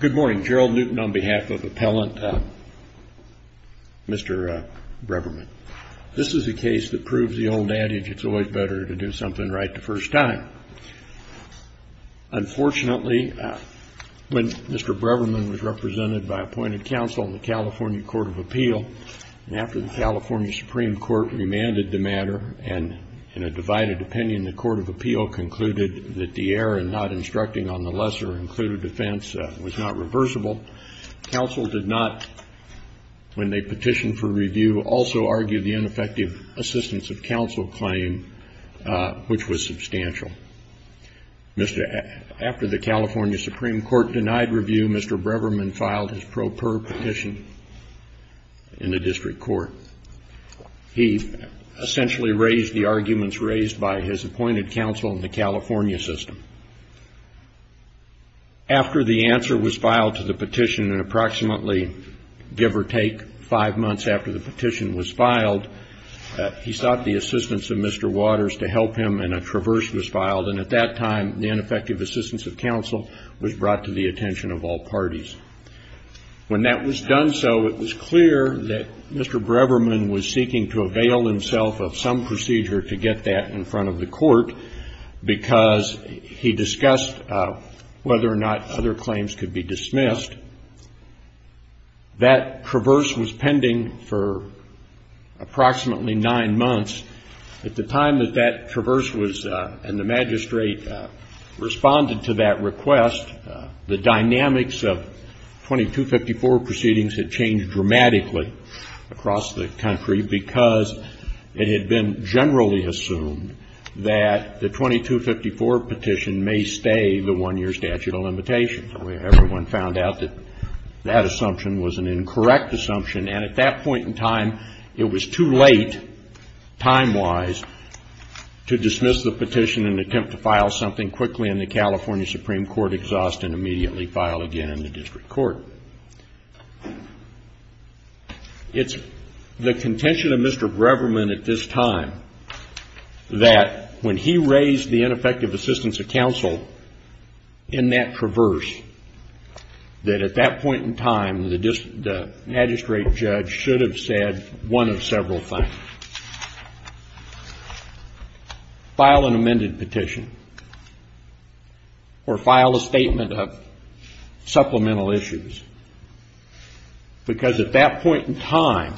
Good morning, Gerald Newton on behalf of Appellant Mr. Breverman. This is a case that proves the old adage, it's always better to do something right the first time. Unfortunately, when Mr. Breverman was represented by appointed counsel in the California Court of Appeal and after the California Supreme Court remanded the matter and in a divided opinion, the Court of Appeal concluded that the error in not instructing on the defense was not reversible. Counsel did not, when they petitioned for review, also argued the ineffective assistance of counsel claim, which was substantial. Mr., after the California Supreme Court denied review, Mr. Breverman filed his pro per petition in the district court. He essentially raised the arguments raised by his appointed counsel in the California system. After the answer was filed to the petition and approximately, give or take five months after the petition was filed, he sought the assistance of Mr. Waters to help him and a traverse was filed. And at that time, the ineffective assistance of counsel was brought to the attention of all parties. When that was done so, it was clear that Mr. Breverman was seeking to avail himself of some procedure to get that in front of the court because he discussed whether or not other claims could be dismissed. That traverse was pending for approximately nine months. At the time that that traverse was, and the magistrate responded to that request, the dynamics of 2254 proceedings had changed dramatically across the country because it had been generally assumed that the 2254 petition may stay the one-year statute of limitations. Everyone found out that that assumption was an incorrect assumption. And at that point in time, it was too late, time-wise, to dismiss the petition and attempt to file something quickly in the California Supreme Court exhaust and immediately file again in the district court. It's the contention of Mr. Breverman at this time that when he raised the ineffective assistance of counsel in that traverse, that at that point in time, the magistrate judge should have said one of several things, file an amended petition or file a statement of supplemental issues, because at that point in time,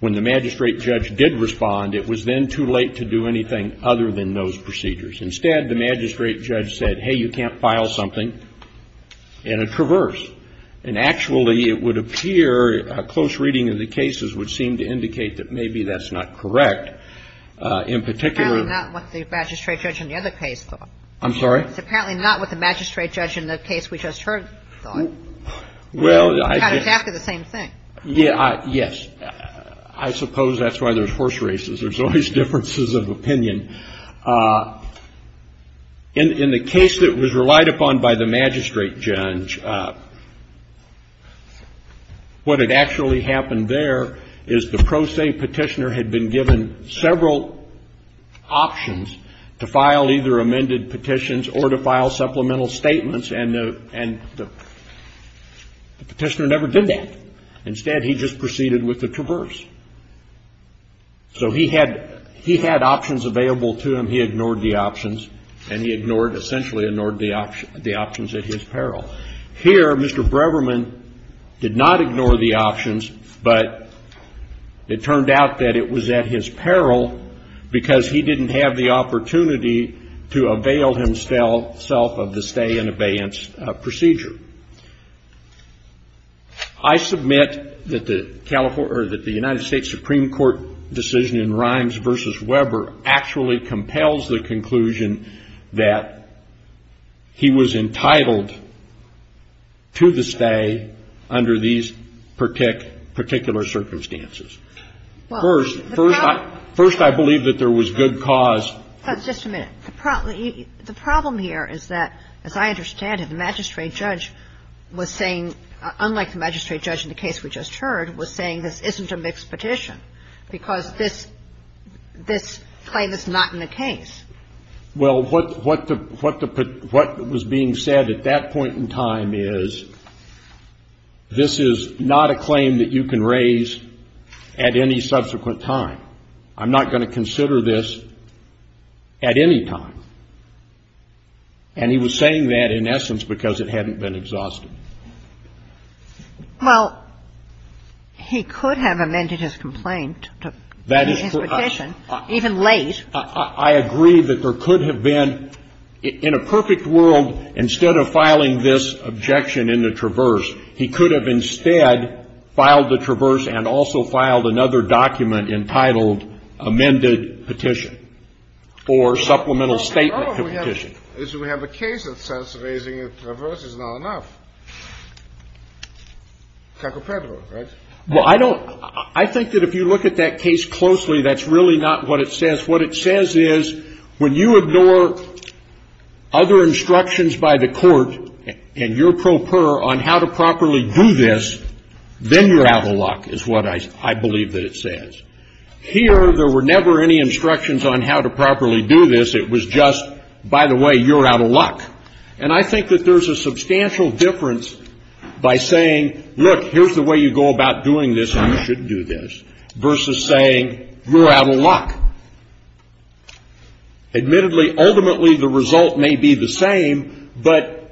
when the magistrate judge did respond, it was then too late to do anything other than those procedures. Instead, the magistrate judge said, hey, you can't file something in a traverse. And actually, it would appear, a close reading of the cases would seem to indicate that maybe that's not correct. In particular — It's apparently not what the magistrate judge in the other case thought. I'm sorry? It's apparently not what the magistrate judge in the case we just heard thought. Well, I — It's kind of exactly the same thing. Yeah, yes. I suppose that's why there's horse races. There's always differences of opinion. In the case that was relied upon by the magistrate judge, what had actually happened there is the pro se petitioner had been given several options to file either amended petitions or to file supplemental statements, and the petitioner never did that. Instead, he just proceeded with the traverse. So he had options available to him. He ignored the options, and he ignored — essentially ignored the options at his peril. Here, Mr. Breverman did not ignore the options, but it turned out that it was at his peril to avail himself of the stay and abeyance procedure. I submit that the California — or that the United States Supreme Court decision in Rimes v. Weber actually compels the conclusion that he was entitled to the stay under these particular circumstances. First — Well, the pro — First, I believe that there was good cause — Just a minute. The problem here is that, as I understand it, the magistrate judge was saying — unlike the magistrate judge in the case we just heard — was saying this isn't a mixed petition because this claim is not in the case. Well, what was being said at that point in time is this is not a claim that you can raise at any subsequent time. I'm not going to consider this at any time. And he was saying that, in essence, because it hadn't been exhausted. Well, he could have amended his complaint to be his petition, even late. I agree that there could have been — in a perfect world, instead of filing this objection in the traverse, he could have instead filed the traverse and also filed another document entitled amended petition or supplemental statement to petition. Well, the problem is we have a case that says raising a traverse is not enough. Cacopedro, right? Well, I don't — I think that if you look at that case closely, that's really not what it says. What it says is when you ignore other instructions by the court and your pro per on how to properly do this, then you're out of luck, is what I believe that it says. Here, there were never any instructions on how to properly do this. It was just, by the way, you're out of luck. And I think that there's a substantial difference by saying, look, here's the way you go about doing this, and you should do this, versus saying, you're out of luck. Admittedly, ultimately, the result may be the same, but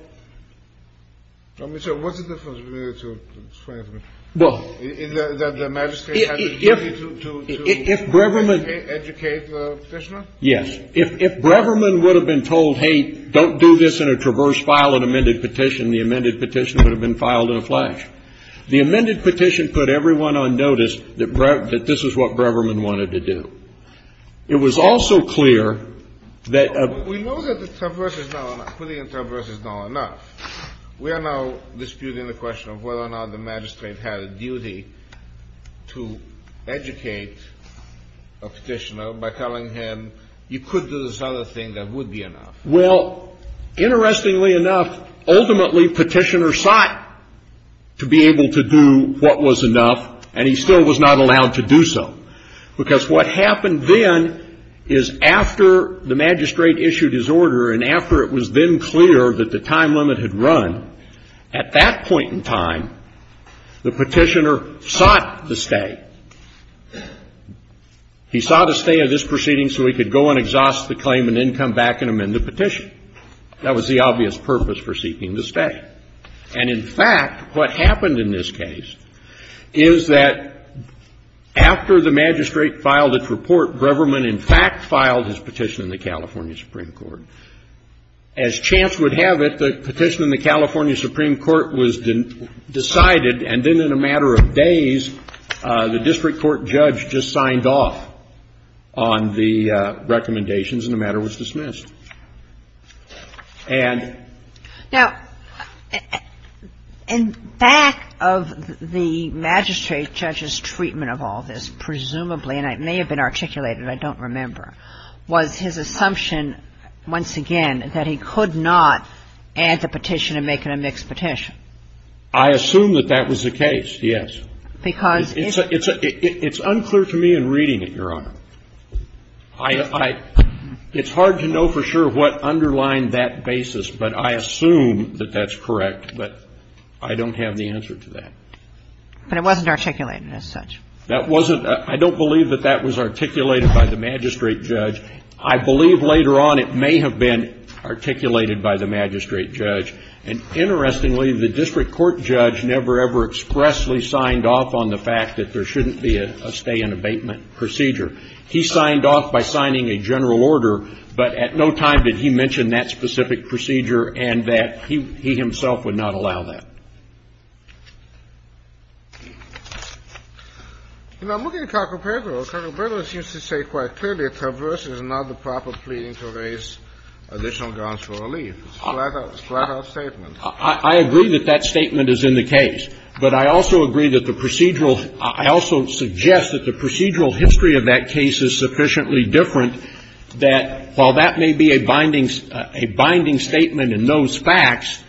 — Well, Mr. O'Brien, what's the difference between the two statements, that the magistrate has a duty to educate the petitioner? Yes. If Breverman would have been told, hey, don't do this in a traverse, file an amended petition, the amended petition would have been filed in a flash. The amended petition put everyone on notice that this is what Breverman wanted to do. It was also clear that — We know that putting a traverse is not enough. We are now disputing the question of whether or not the magistrate had a duty to educate a petitioner by telling him, you could do this other thing that would be enough. Well, interestingly enough, ultimately, petitioner sought to be able to do what was enough, and he still was not allowed to do so. Because what happened then is, after the magistrate issued his order, and after it was then clear that the time limit had run, at that point in time, the petitioner sought to stay. He sought to stay at this proceeding so he could go and exhaust the claim and then come back and amend the petition. That was the obvious purpose for seeking to stay. And in fact, what happened in this case is that after the magistrate filed its report, Breverman, in fact, filed his petition in the California Supreme Court. As chance would have it, the petition in the California Supreme Court was decided, and then in a matter of days, the district court judge just signed off on the recommendations, and the matter was dismissed. And — Now, in back of the magistrate judge's treatment of all this, presumably — and it may have been articulated, I don't remember — was his assumption, once again, that he could not add the petition and make it a mixed petition. I assume that that was the case, yes. Because — It's unclear to me in reading it, Your Honor. I — it's hard to know for sure what underlined that basis, but I assume that that's correct, but I don't have the answer to that. But it wasn't articulated as such. That wasn't — I don't believe that that was articulated by the magistrate judge. I believe later on it may have been articulated by the magistrate judge. And interestingly, the district court judge never, ever expressly signed off on the fact that there shouldn't be a stay-in-abatement procedure. He signed off by signing a general order, but at no time did he mention that specific procedure and that he himself would not allow that. You know, I'm looking at Carcobrero. Carcobrero seems to say quite clearly a traverse is not the proper pleading to raise additional grounds for relief. It's a flat-out — flat-out statement. I agree that that statement is in the case, but I also agree that the procedural — I also suggest that the procedural history of that case is sufficiently different, that while that may be a binding — a binding statement in those facts,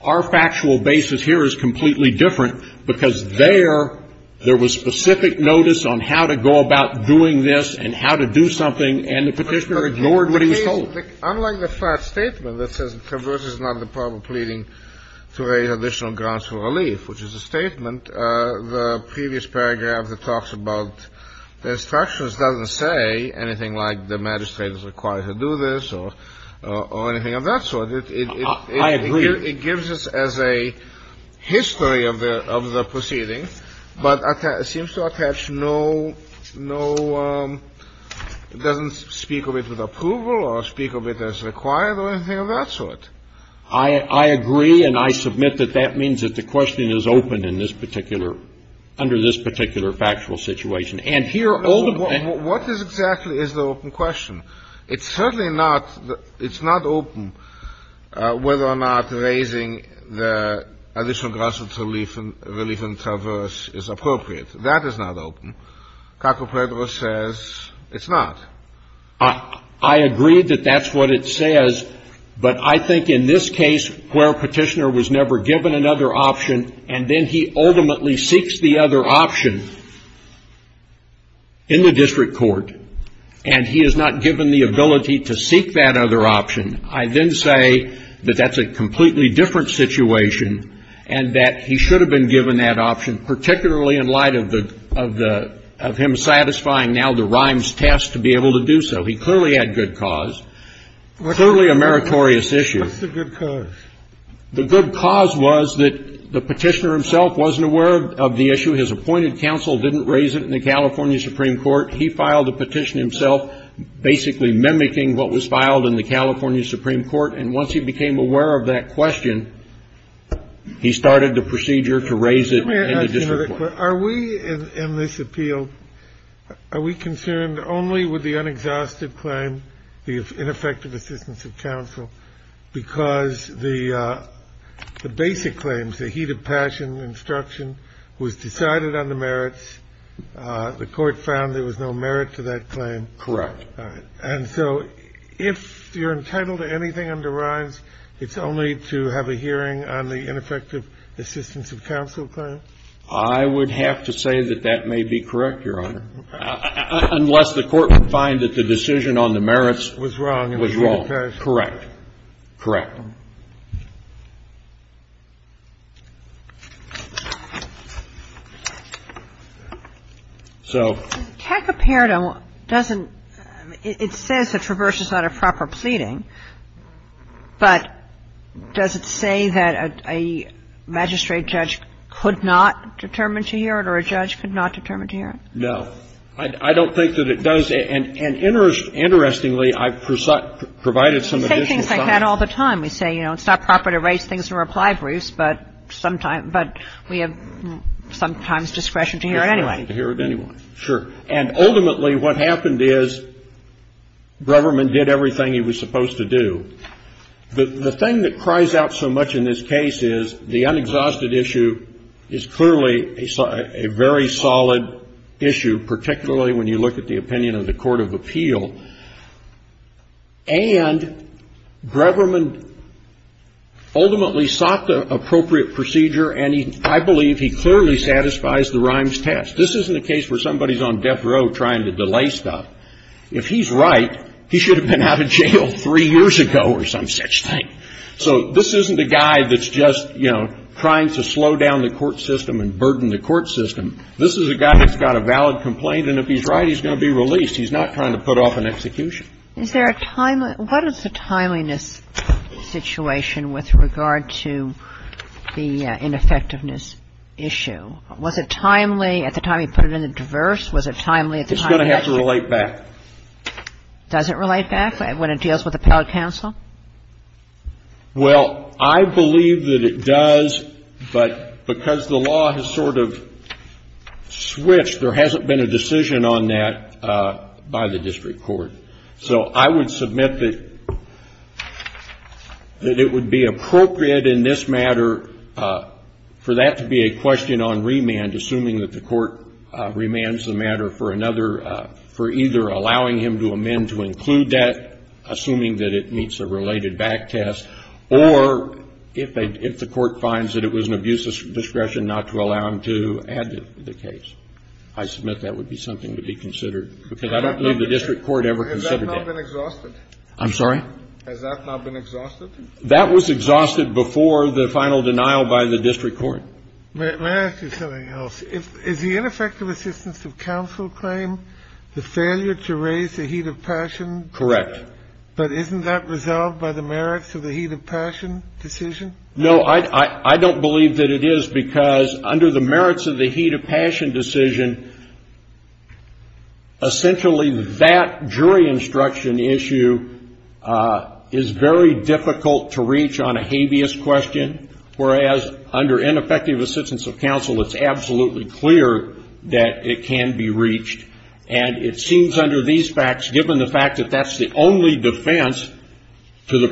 our factual basis here is completely different, because there, there was specific notice on how to go about doing this and how to do something, and the Petitioner ignored what he was told. Unlike the flat statement that says a traverse is not the proper pleading to raise additional grounds for relief, which is a statement, the previous paragraph that talks about the instructions doesn't say anything like the magistrate is required to do this or — or anything of that sort. It — it — it gives us as a history of the — of the proceedings, but it seems to me that the Petitioner did not attach no — no — doesn't speak of it with approval or speak of it as required or anything of that sort. I — I agree, and I submit that that means that the question is open in this particular — under this particular factual situation. And here, all the — What is exactly is the open question? It's certainly not — it's not open whether or not raising the additional grounds for relief and — relief and traverse is appropriate. That is not open. Caco-Pedro says it's not. I — I agree that that's what it says, but I think in this case, where Petitioner was never given another option, and then he ultimately seeks the other option in the district court, and he is not given the ability to seek that other option, I then say that that's a completely different situation, and that he should have been given that option, particularly in light of the — of the — of him satisfying now the Rimes test to be able to do so. He clearly had good cause, clearly a meritorious issue. What's the good cause? The good cause was that the Petitioner himself wasn't aware of the issue. His appointed counsel didn't raise it in the California Supreme Court. He filed the petition himself, basically mimicking what was filed in the California Supreme Court, and once he became aware of that question, he started the procedure to raise it in the district court. Are we in this appeal — are we concerned only with the unexhausted claim, the ineffective assistance of counsel, because the — the basic claims, the heat of passion instruction, was decided on the merits, the court found there was no merit to that claim? Correct. And so if you're entitled to anything under Rimes, it's only to have a hearing on the ineffective assistance of counsel claim? I would have to say that that may be correct, Your Honor, unless the Court would find that the decision on the merits was wrong. Correct. Correct. So the tech apparatum doesn't — it says that Traverse is not a proper pleading, but does it say that a magistrate judge could not determine to hear it or a judge could not determine to hear it? No. I don't think that it does, and interestingly, I've provided some additional facts. You say things like that all the time. We say, you know, it's not proper to raise things in reply briefs, but we have sometimes discretion to hear it anyway. Discretion to hear it anyway. Sure. And ultimately, what happened is Breverman did everything he was supposed to do. The thing that cries out so much in this case is the unexhausted issue is clearly a very solid issue, particularly when you look at the opinion of the court of appeal. And Breverman ultimately sought the appropriate procedure, and I believe he clearly satisfies the Rimes test. This isn't a case where somebody's on death row trying to delay stuff. If he's right, he should have been out of jail three years ago or some such thing. So this isn't a guy that's just, you know, trying to slow down the court system and burden the court system. This is a guy that's got a valid complaint, and if he's right, he's going to be released. He's not trying to put off an execution. Is there a timely – what is the timeliness situation with regard to the ineffectiveness issue? Was it timely at the time he put it in the diverse? Was it timely at the time he put it in the diverse? It's going to have to relate back. Does it relate back when it deals with appellate counsel? Well, I believe that it does, but because the law has sort of switched, there hasn't been a decision on that by the district court. So I would submit that it would be appropriate in this matter for that to be a question on remand, assuming that the court remands the matter for another – for either allowing him to amend to include that, assuming that it meets a related back test, or if the court finds that it was an abuse of discretion not to allow him to add the case. I submit that would be something to be considered, because I don't believe the district court ever considered that. Has that not been exhausted? I'm sorry? Has that not been exhausted? That was exhausted before the final denial by the district court. May I ask you something else? Is the ineffective assistance of counsel claim the failure to raise the heat of passion? Correct. But isn't that resolved by the merits of the heat of passion decision? No, I don't believe that it is, because under the merits of the heat of passion decision, essentially that jury instruction issue is very difficult to reach on a habeas question, whereas under ineffective assistance of counsel, it's absolutely clear that it can be reached. And it seems under these facts, given the fact that that's the only defense to the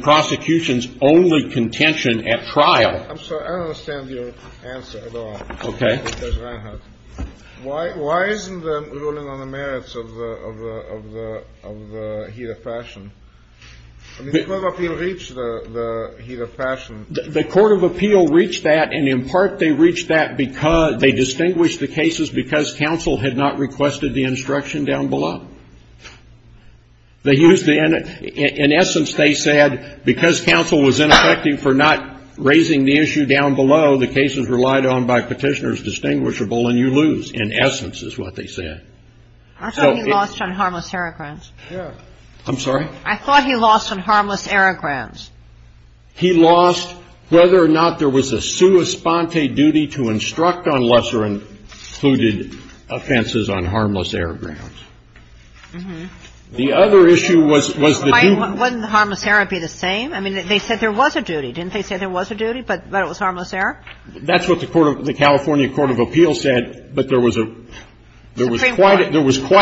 trial. I'm sorry. I don't understand your answer at all. Okay. Judge Reinhart. Why isn't the ruling on the merits of the heat of passion? The Court of Appeal reached the heat of passion. The Court of Appeal reached that, and in part they reached that because they distinguished the cases because counsel had not requested the instruction down below. In essence, they said because counsel was ineffective for not raising the issue down below, the cases relied on by Petitioner's distinguishable, and you lose, in essence is what they said. I thought he lost on harmless error grounds. I'm sorry? I thought he lost on harmless error grounds. He lost whether or not there was a sua sponte duty to instruct on lesser included offenses on harmless error grounds. The other issue was the due of merits. Why wouldn't harmless error be the same? I mean, they said there was a duty, didn't they say there was a duty, but it was harmless error? That's what the California Court of Appeal said, but there was quite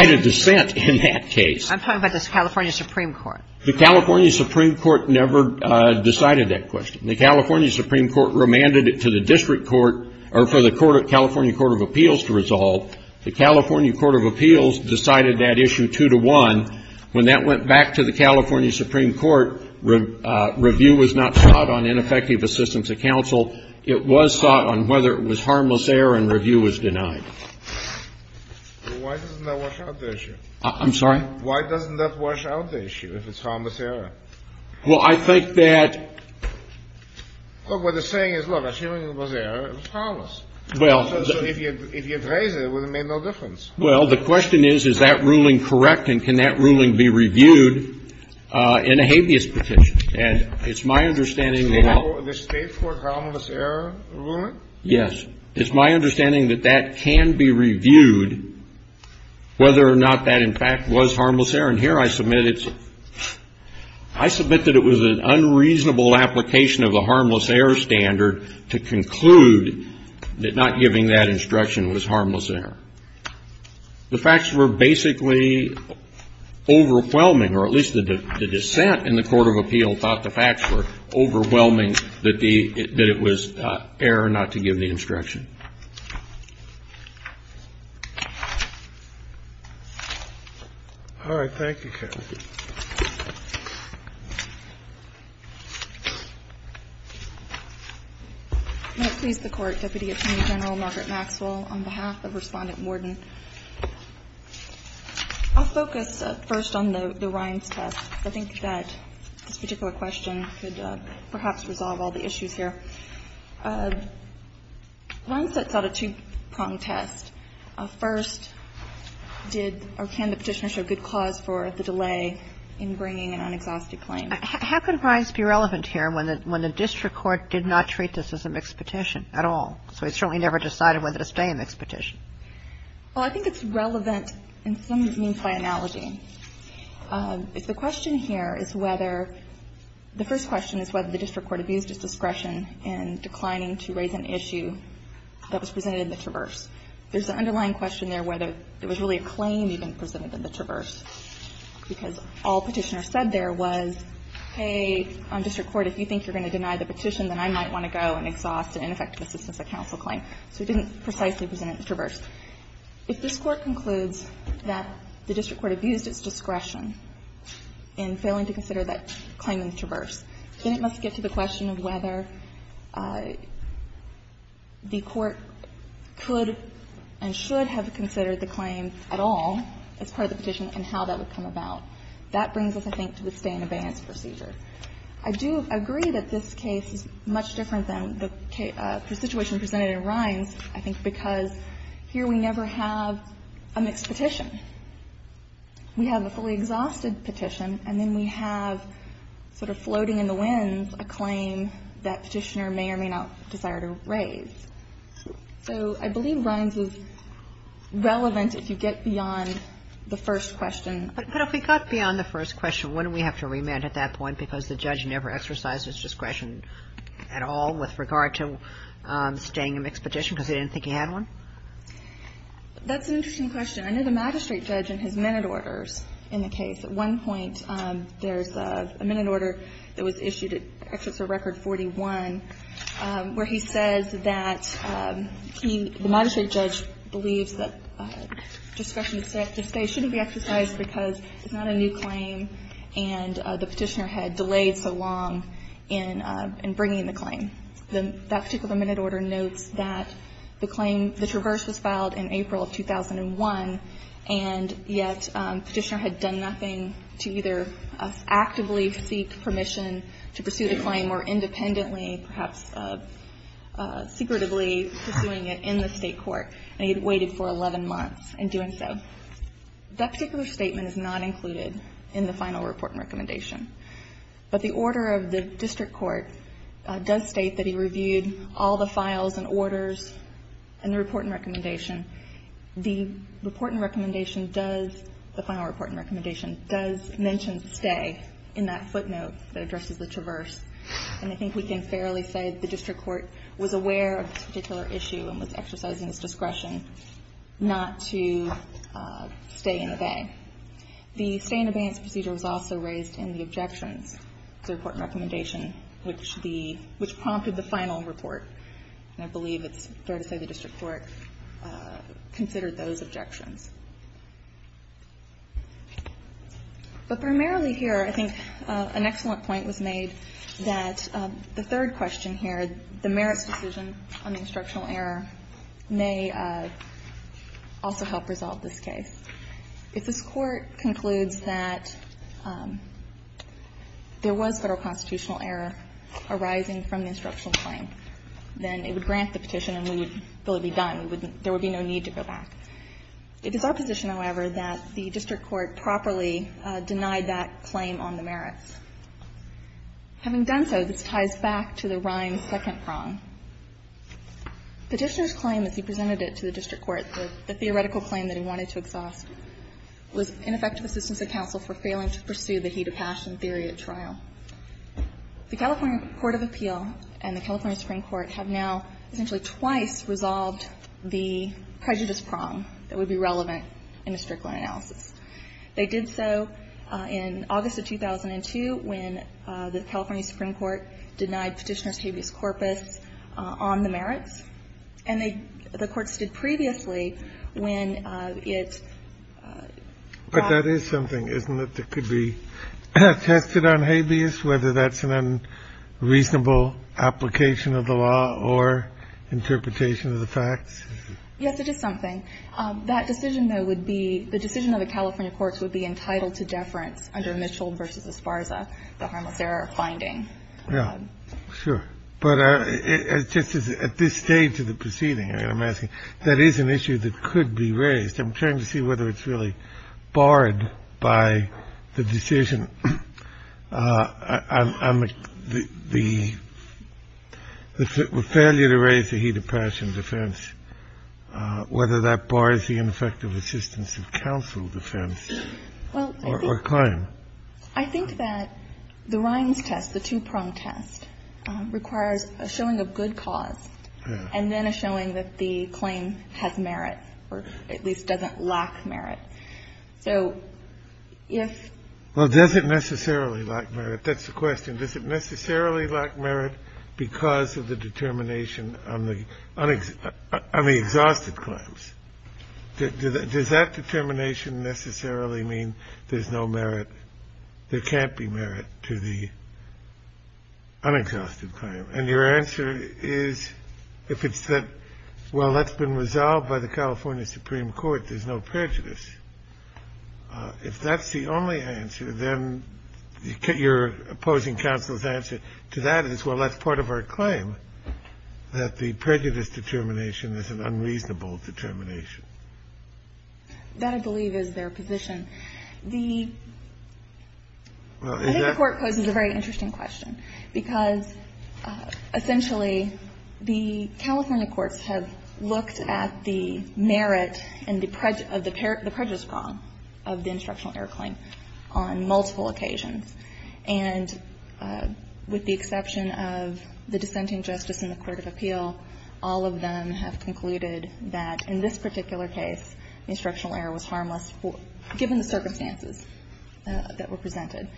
a dissent in that case. I'm talking about the California Supreme Court. The California Supreme Court never decided that question. The California Supreme Court remanded it to the district court or for the California Court of Appeals to resolve. The California Court of Appeals decided that issue two to one. When that went back to the California Supreme Court, review was not sought on ineffective assistance of counsel. It was sought on whether it was harmless error and review was denied. Why doesn't that wash out the issue? I'm sorry? Why doesn't that wash out the issue, if it's harmless error? Well, I think that the saying is, look, assuming it was error, it was harmless. Well, the question is, is that ruling correct and can that ruling be reviewed in a habeas petition? And it's my understanding that that can be reviewed, whether or not that, in fact, was harmless error. And here I submit it's – I submit that it was an unreasonable application of the harmless error standard to conclude that not giving that instruction was harmless error. The facts were basically overwhelming, or at least the dissent in the court of appeal thought the facts were overwhelming that the – that it was error not to give the instruction. All right. Thank you, Kathleen. I'm going to please the Court, Deputy Attorney General Margaret Maxwell, on behalf of Respondent Morden. I'll focus first on the Rines test. I think that this particular question could perhaps resolve all the issues here. Rines sets out a two-pronged test. First, did – or can the Petitioner show good cause for the delay in bringing an unexhausted claim? How can Rines be relevant here when the district court did not treat this as a mixed petition at all? So it certainly never decided whether to stay a mixed petition. Well, I think it's relevant in some means by analogy. If the question here is whether – the first question is whether the district court abused its discretion in declining to raise an issue that was presented in the Traverse. There's an underlying question there whether there was really a claim even presented in the Traverse, because all Petitioner said there was, hey, on district court, if you think you're going to deny the petition, then I might want to go and exhaust an ineffective assistance at counsel claim. So it didn't precisely present it in the Traverse. If this Court concludes that the district court abused its discretion in failing to consider that claim in the Traverse, then it must get to the question of whether the court could and should have considered the claim at all as part of the petition and how that would come about. That brings us, I think, to the stay in abeyance procedure. I do agree that this case is much different than the situation presented in Rines, I think, because here we never have a mixed petition. We have a fully exhausted petition, and then we have sort of floating in the winds a claim that Petitioner may or may not desire to raise. So I believe Rines is relevant if you get beyond the first question. But if we got beyond the first question, wouldn't we have to remand at that point because the judge never exercised its discretion at all with regard to staying in a mixed petition because they didn't think he had one? That's an interesting question. I know the magistrate judge in his minute orders in the case, at one point there's a minute order that was issued at Exeter Record 41 where he says that he, the magistrate judge, believes that discretion to stay shouldn't be exercised because it's not a new claim and the Petitioner had delayed so long in bringing the claim. That particular minute order notes that the claim, the Traverse was filed in April of 2001, and yet Petitioner had done nothing to either actively seek permission to pursue the claim more independently, perhaps secretively pursuing it in the State court, and he had waited for 11 months in doing so. That particular statement is not included in the final report and recommendation. But the order of the district court does state that he reviewed all the files and orders in the report and recommendation. The report and recommendation does, the final report and recommendation does mention stay in that footnote that addresses the Traverse. And I think we can fairly say the district court was aware of this particular issue and was exercising its discretion not to stay and obey. The stay and obeyance procedure was also raised in the objections to the report and recommendation, which the – which prompted the final report. And I believe it's fair to say the district court considered those objections. But primarily here, I think an excellent point was made that the third question here, the merits decision on the instructional error may also help resolve this case. If this Court concludes that there was Federal constitutional error arising from the merits, then it would grant the petition and we would – there would be no need to go back. It is our position, however, that the district court properly denied that claim on the merits. Having done so, this ties back to the Rhine second prong. Petitioner's claim, as he presented it to the district court, the theoretical claim that he wanted to exhaust, was ineffective assistance of counsel for failing to pursue the heed of passion theory at trial. The California court of appeal and the California Supreme Court have now essentially twice resolved the prejudice prong that would be relevant in a district court analysis. They did so in August of 2002 when the California Supreme Court denied Petitioner's habeas corpus on the merits. And they – the Court stood previously when it brought – But that is something, isn't it, that could be tested on habeas, whether that's an unreasonable application of the law or interpretation of the facts? Yes, it is something. That decision, though, would be – the decision of the California courts would be entitled to deference under Mitchell v. Esparza, the harmless error finding. Yeah, sure. But it just is – at this stage of the proceeding, I'm asking, that is an issue that could be raised. I'm trying to see whether it's really barred by the decision on the – the failure to raise the heed of passion defense, whether that bars the ineffective assistance of counsel defense or claim. Well, I think that the Rines test, the two-prong test, requires a showing of good cause and then a showing that the claim has merit, or at least doesn't lack merit. So if – Well, does it necessarily lack merit? That's the question. Does it necessarily lack merit because of the determination on the – on the exhausted claims? Does that determination necessarily mean there's no merit – there can't be merit to the unexhausted claim? And your answer is, if it's that, well, that's been resolved by the California Supreme Court, there's no prejudice. If that's the only answer, then your opposing counsel's answer to that is, well, that's part of our claim, that the prejudice determination is an unreasonable determination. That, I believe, is their position. The – Well, is that – Essentially, the California courts have looked at the merit and the prejudice – of the prejudice prong of the instructional error claim on multiple occasions. And with the exception of the dissenting justice in the court of appeal, all of them have concluded that in this particular case, instructional error was harmless given the circumstances that were presented.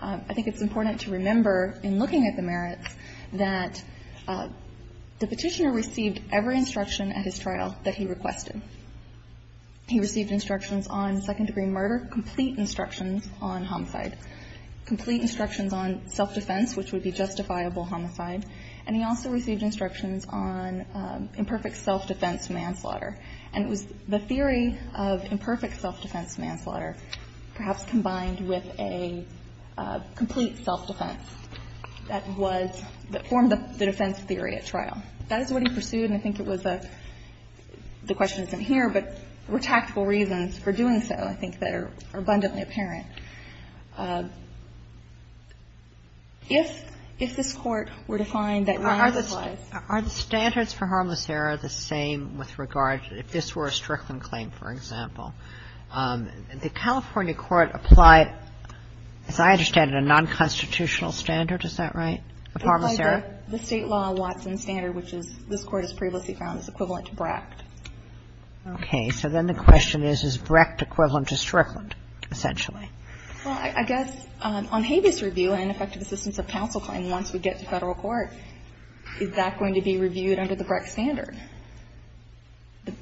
I think it's important to remember, in looking at the merits, that the Petitioner received every instruction at his trial that he requested. He received instructions on second-degree murder, complete instructions on homicide, complete instructions on self-defense, which would be justifiable homicide. And he also received instructions on imperfect self-defense manslaughter. And it was the theory of imperfect self-defense manslaughter, perhaps combined with a complete self-defense, that was – that formed the defense theory at trial. That is what he pursued, and I think it was a – the question isn't here, but there were tactical reasons for doing so, I think, that are abundantly apparent. If this Court were to find that – Are the standards for harmless error the same with regard – if this were a Strickland claim, for example, the California court applied, as I understand it, a non-constitutional standard, is that right, of harmless error? The state law Watson standard, which this Court has previously found is equivalent to Brecht. Okay. So then the question is, is Brecht equivalent to Strickland, essentially? Well, I guess on Habeas Review and effective assistance of counsel claim, once we get to Federal court, is that going to be reviewed under the Brecht standard?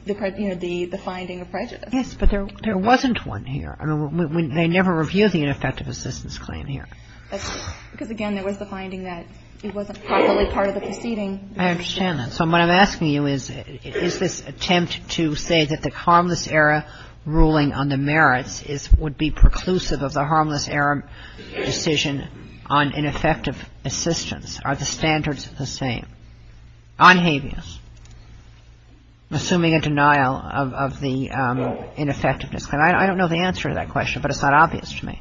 The finding of prejudice. Yes, but there wasn't one here. I mean, they never reviewed the ineffective assistance claim here. Because, again, there was the finding that it wasn't probably part of the proceeding. I understand that. So what I'm asking you is, is this attempt to say that the harmless error ruling on the merits is – would be preclusive of the harmless error decision on ineffective assistance? Are the standards the same on Habeas? Assuming a denial of the ineffectiveness. I don't know the answer to that question, but it's not obvious to me.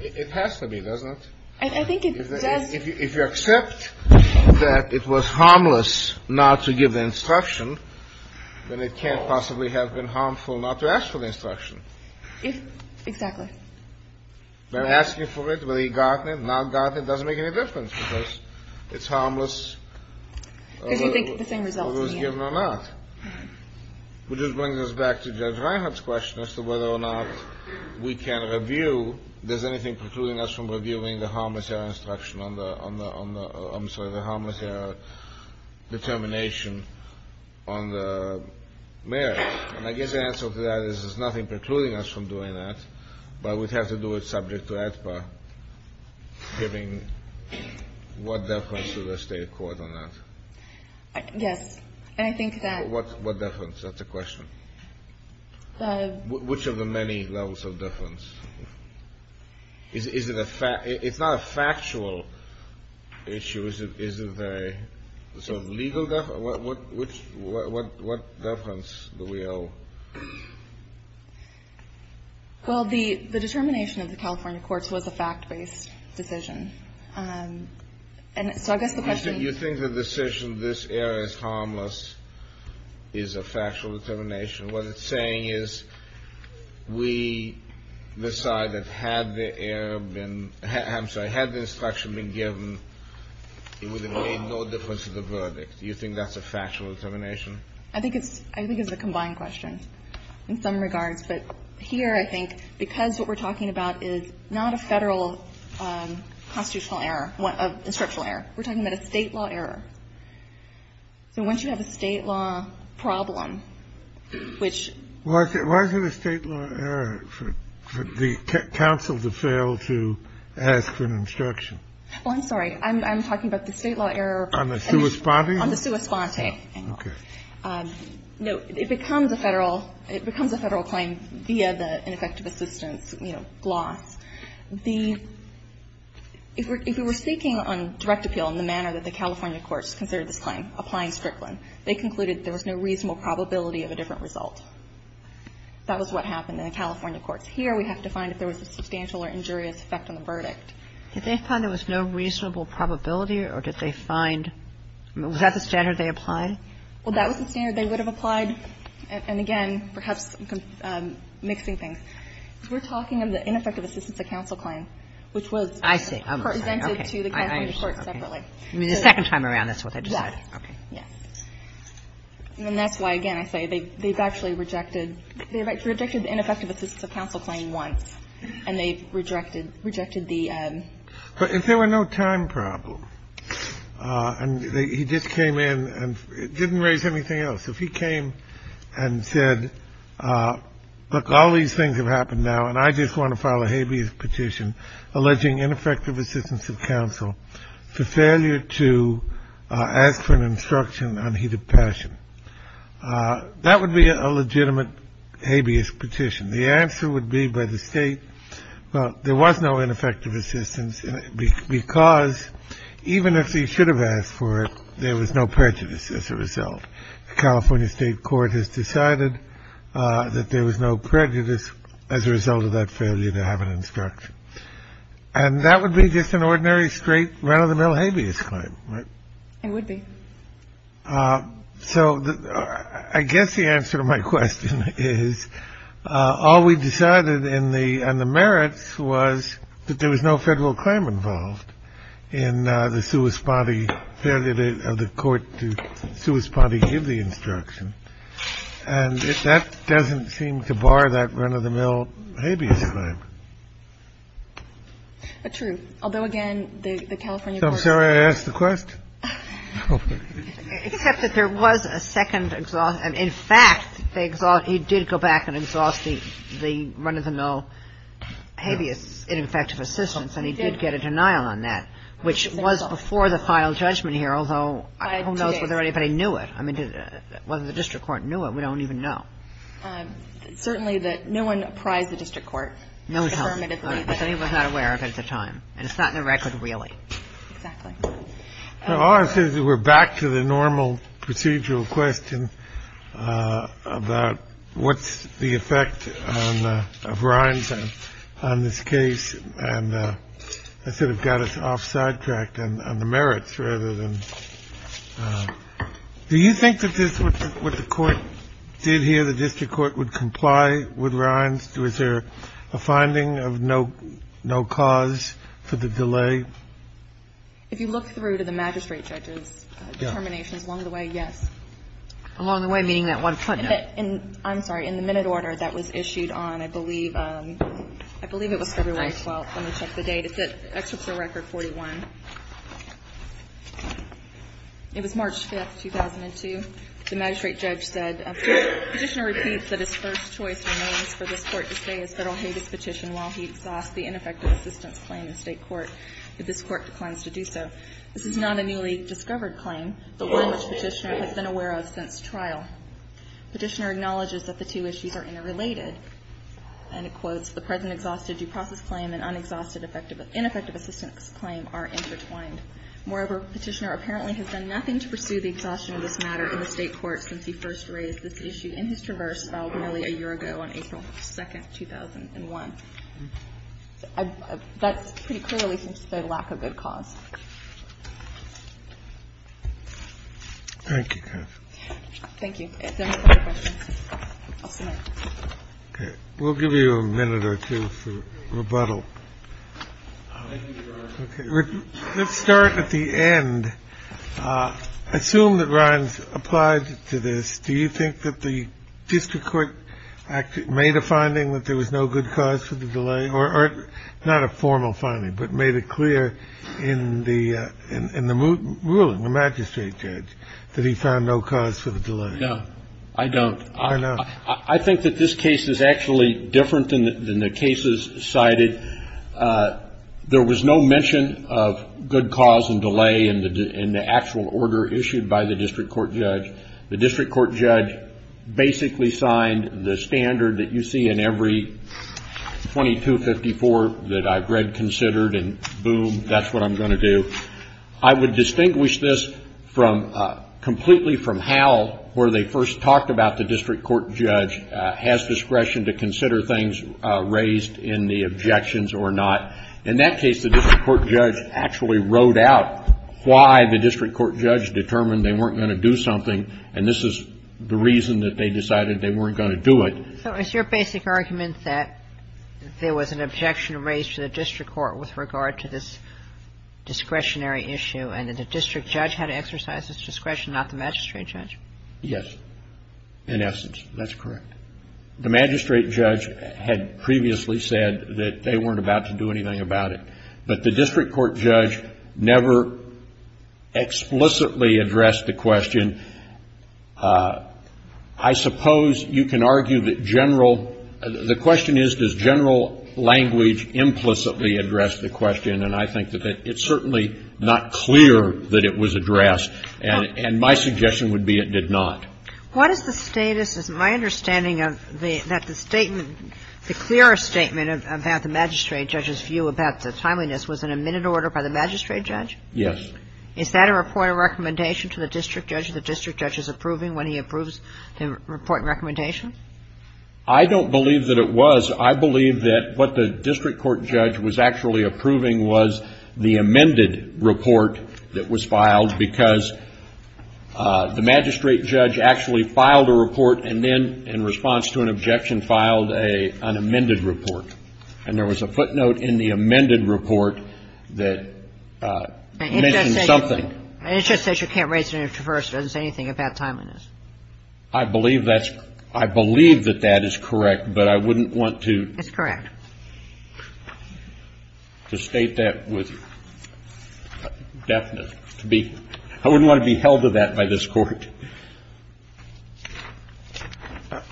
It has to be, doesn't it? I think it does. If you accept that it was harmless not to give the instruction, then it can't possibly have been harmful not to ask for the instruction. Exactly. But asking for it, whether he got it, not got it, doesn't make any difference because it's harmless. Because you think the same result is in the end. Whether it was given or not. Which brings us back to Judge Reinhart's question as to whether or not we can review – does anything preclude us from reviewing the harmless error instruction on the – I'm sorry, the harmless error determination on the merits. And I guess the answer to that is there's nothing precluding us from doing that, but we'd have to do it subject to AEDPA, given what deference to the state court on that. Yes. And I think that – What deference? That's the question. Which of the many levels of deference? Is it a – it's not a factual issue. Is it a sort of legal – what deference do we owe? Well, the determination of the California courts was a fact-based decision. And so I guess the question – You think the decision, this error is harmless, is a factual determination. What it's saying is we decided had the error been – I'm sorry, had the instruction been given, it would have made no difference to the verdict. Do you think that's a factual determination? I think it's – I think it's a combined question in some regards. But here, I think, because what we're talking about is not a Federal constitutional error, an instructional error. We're talking about a state law error. So once you have a state law problem, which – Why is it a state law error for the counsel to fail to ask for an instruction? Well, I'm sorry. I'm talking about the state law error – On the sua sponte? On the sua sponte. Okay. No, it becomes a Federal – it becomes a Federal claim via the ineffective assistance, you know, gloss. The – if we were speaking on direct appeal in the manner that the California courts considered this claim, applying Strickland, they concluded there was no reasonable probability of a different result. That was what happened in the California courts. Here, we have to find if there was a substantial or injurious effect on the verdict. Did they find there was no reasonable probability, or did they find – was that the standard they would have applied? Well, that was the standard they would have applied, and again, perhaps mixing things, we're talking of the ineffective assistance of counsel claim, which was I see. Okay. I understand. Okay. I mean, the second time around, that's what they decided. Yes. Okay. Yes. And that's why, again, I say they've actually rejected – they've actually rejected the ineffective assistance of counsel claim once, and they rejected the – But if there were no time problem, and he just came in and didn't raise anything else, if he came and said, look, all these things have happened now, and I just want to file a habeas petition alleging ineffective assistance of counsel for failure to ask for an instruction on heat of passion, that would be a legitimate habeas petition. The answer would be by the state, well, there was no ineffective assistance because even if he should have asked for it, there was no prejudice as a result. The California state court has decided that there was no prejudice as a result of that failure to have an instruction. And that would be just an ordinary straight run-of-the-mill habeas claim, right? It would be. So I guess the answer to my question is all we decided in the merits was that there was no federal claim involved in the sui sponte failure of the court to sui sponte give the instruction. And that doesn't seem to bar that run-of-the-mill habeas claim. True. Although, again, the California court – I'm sorry I asked the question. Except that there was a second – in fact, he did go back and exhaust the run-of-the-mill habeas ineffective assistance, and he did get a denial on that, which was before the final judgment here, although who knows whether anybody knew it. I mean, whether the district court knew it, we don't even know. Certainly that no one apprised the district court. No one told me. But then he was not aware of it at the time. And it's not in the record, really. Exactly. All I said is we're back to the normal procedural question about what's the effect of Rhines on this case, and I sort of got us off sidetracked on the merits rather than – do you think that this, what the court did here, the district court would comply with Rhines? Was there a finding of no cause for the delay? If you look through to the magistrate judge's determinations along the way, yes. Along the way, meaning that one footnote? I'm sorry. In the minute order that was issued on, I believe, I believe it was February 12th. Let me check the date. It's at Excerptural Record 41. It was March 5th, 2002. The magistrate judge said, ''The Petitioner repeats that his first choice remains for this Court to say his Federal Habeas Petition while he exhausts the ineffective assistance claim in State court. If this Court declines to do so, this is not a newly discovered claim, but one which Petitioner has been aware of since trial. Petitioner acknowledges that the two issues are interrelated.'' And it quotes, ''The present exhausted due process claim and unexhausted ineffective assistance claim are intertwined. Moreover, Petitioner apparently has done nothing to pursue the exhaustion of this matter in the State court since he first raised this issue in his traverse filed nearly a year ago on April 2nd, 2001.'' That's pretty clearly the lack of good cause. Thank you. Thank you. We'll give you a minute or two for rebuttal. Let's start at the end. Assume that Ryan's applied to this. Do you think that the district court made a finding that there was no good cause for the delay, or not a formal finding, but made it clear in the ruling, the magistrate judge, that he found no cause for the delay? No, I don't. I think that this case is actually different than the cases cited. There was no mention of good cause and delay in the actual order issued by the district court judge. The district court judge basically signed the standard that you see in every 2254 that I've read considered, and boom, that's what I'm going to do. I would distinguish this completely from how, where they first talked about the district court judge has discretion to consider things raised in the objections or not. In that case, the district court judge actually wrote out why the district court judge determined they weren't going to do something, and this is the reason that they decided they weren't going to do it. So it's your basic argument that there was an objection raised to the district court with regard to this discretionary issue, and that the district judge had to exercise this discretion, not the magistrate judge? Yes, in essence, that's correct. The magistrate judge had previously said that they weren't about to do anything about it, but the district court judge never explicitly addressed the question. I suppose you can argue that general — the question is, does general language implicitly address the question, and I think that it's certainly not clear that it was addressed, and my suggestion would be it did not. What is the status, as my understanding of the — that the statement — the clearest statement about the magistrate judge's view about the timeliness was an amended order by the magistrate judge? Yes. Is that a report of recommendation to the district judge that the district judge is approving when he approves the report and recommendation? I don't believe that it was. I believe that what the district court judge was actually approving was the amended report that was filed, because the magistrate judge actually filed a report and then, in response to an objection, filed a — an amended report. And there was a footnote in the amended report that mentioned something. And it just says you can't raise it any further. It doesn't say anything about timeliness. I believe that's — I believe that that is correct, but I wouldn't want to — It's correct. To state that with deftness. To be — I wouldn't want to be held to that by this Court.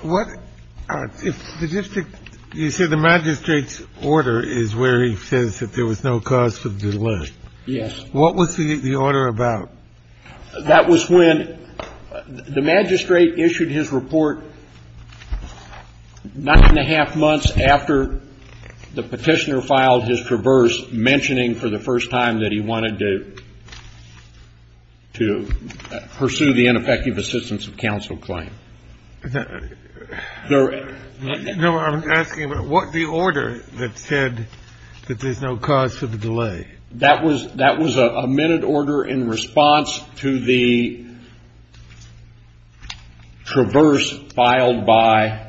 What — if the district — you said the magistrate's order is where he says that there was no cause for delay. Yes. What was the order about? That was when the magistrate issued his report nine and a half months after the Petitioner filed his traverse, mentioning for the first time that he wanted to pursue the ineffective assistance of counsel claim. No, I'm asking about what the order that said that there's no cause for the delay. That was — that was an amended order in response to the traverse filed by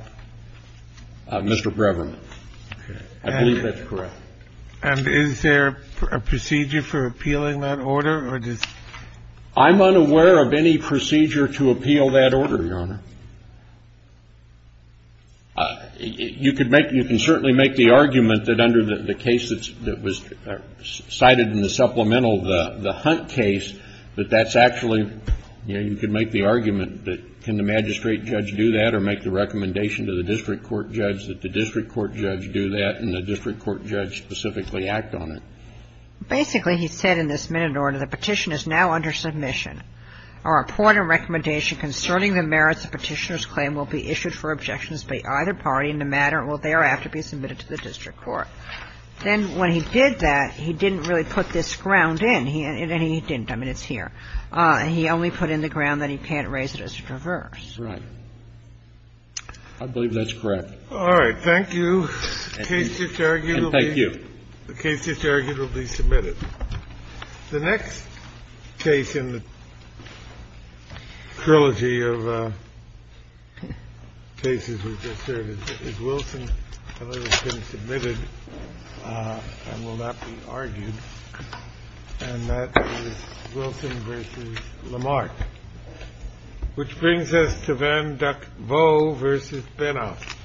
Mr. Breverman. I believe that's correct. And is there a procedure for appealing that order, or does — I'm unaware of any procedure to appeal that order, Your Honor. You could make — you can certainly make the argument that under the case that's — that was cited in the supplemental, the Hunt case, that that's actually — you know, you could make the argument that can the magistrate judge do that, or make the recommendation to the district court judge that the district court judge do that and the district court judge specifically act on it. Basically, he said in this amended order, the petition is now under submission. Our report and recommendation concerning the merits of Petitioner's claim will be issued for objections by either party in the matter and will thereafter be submitted to the district court. Then when he did that, he didn't really put this ground in. He — and he didn't. I mean, it's here. He only put in the ground that he can't raise it as a traverse. Right. I believe that's correct. All right. Thank you. The case is arguably — Thank you. The case is arguably submitted. The next case in the trilogy of cases we've just heard is Wilson v. Lamarck, which brings us to Van Duck Voe v. Benoff.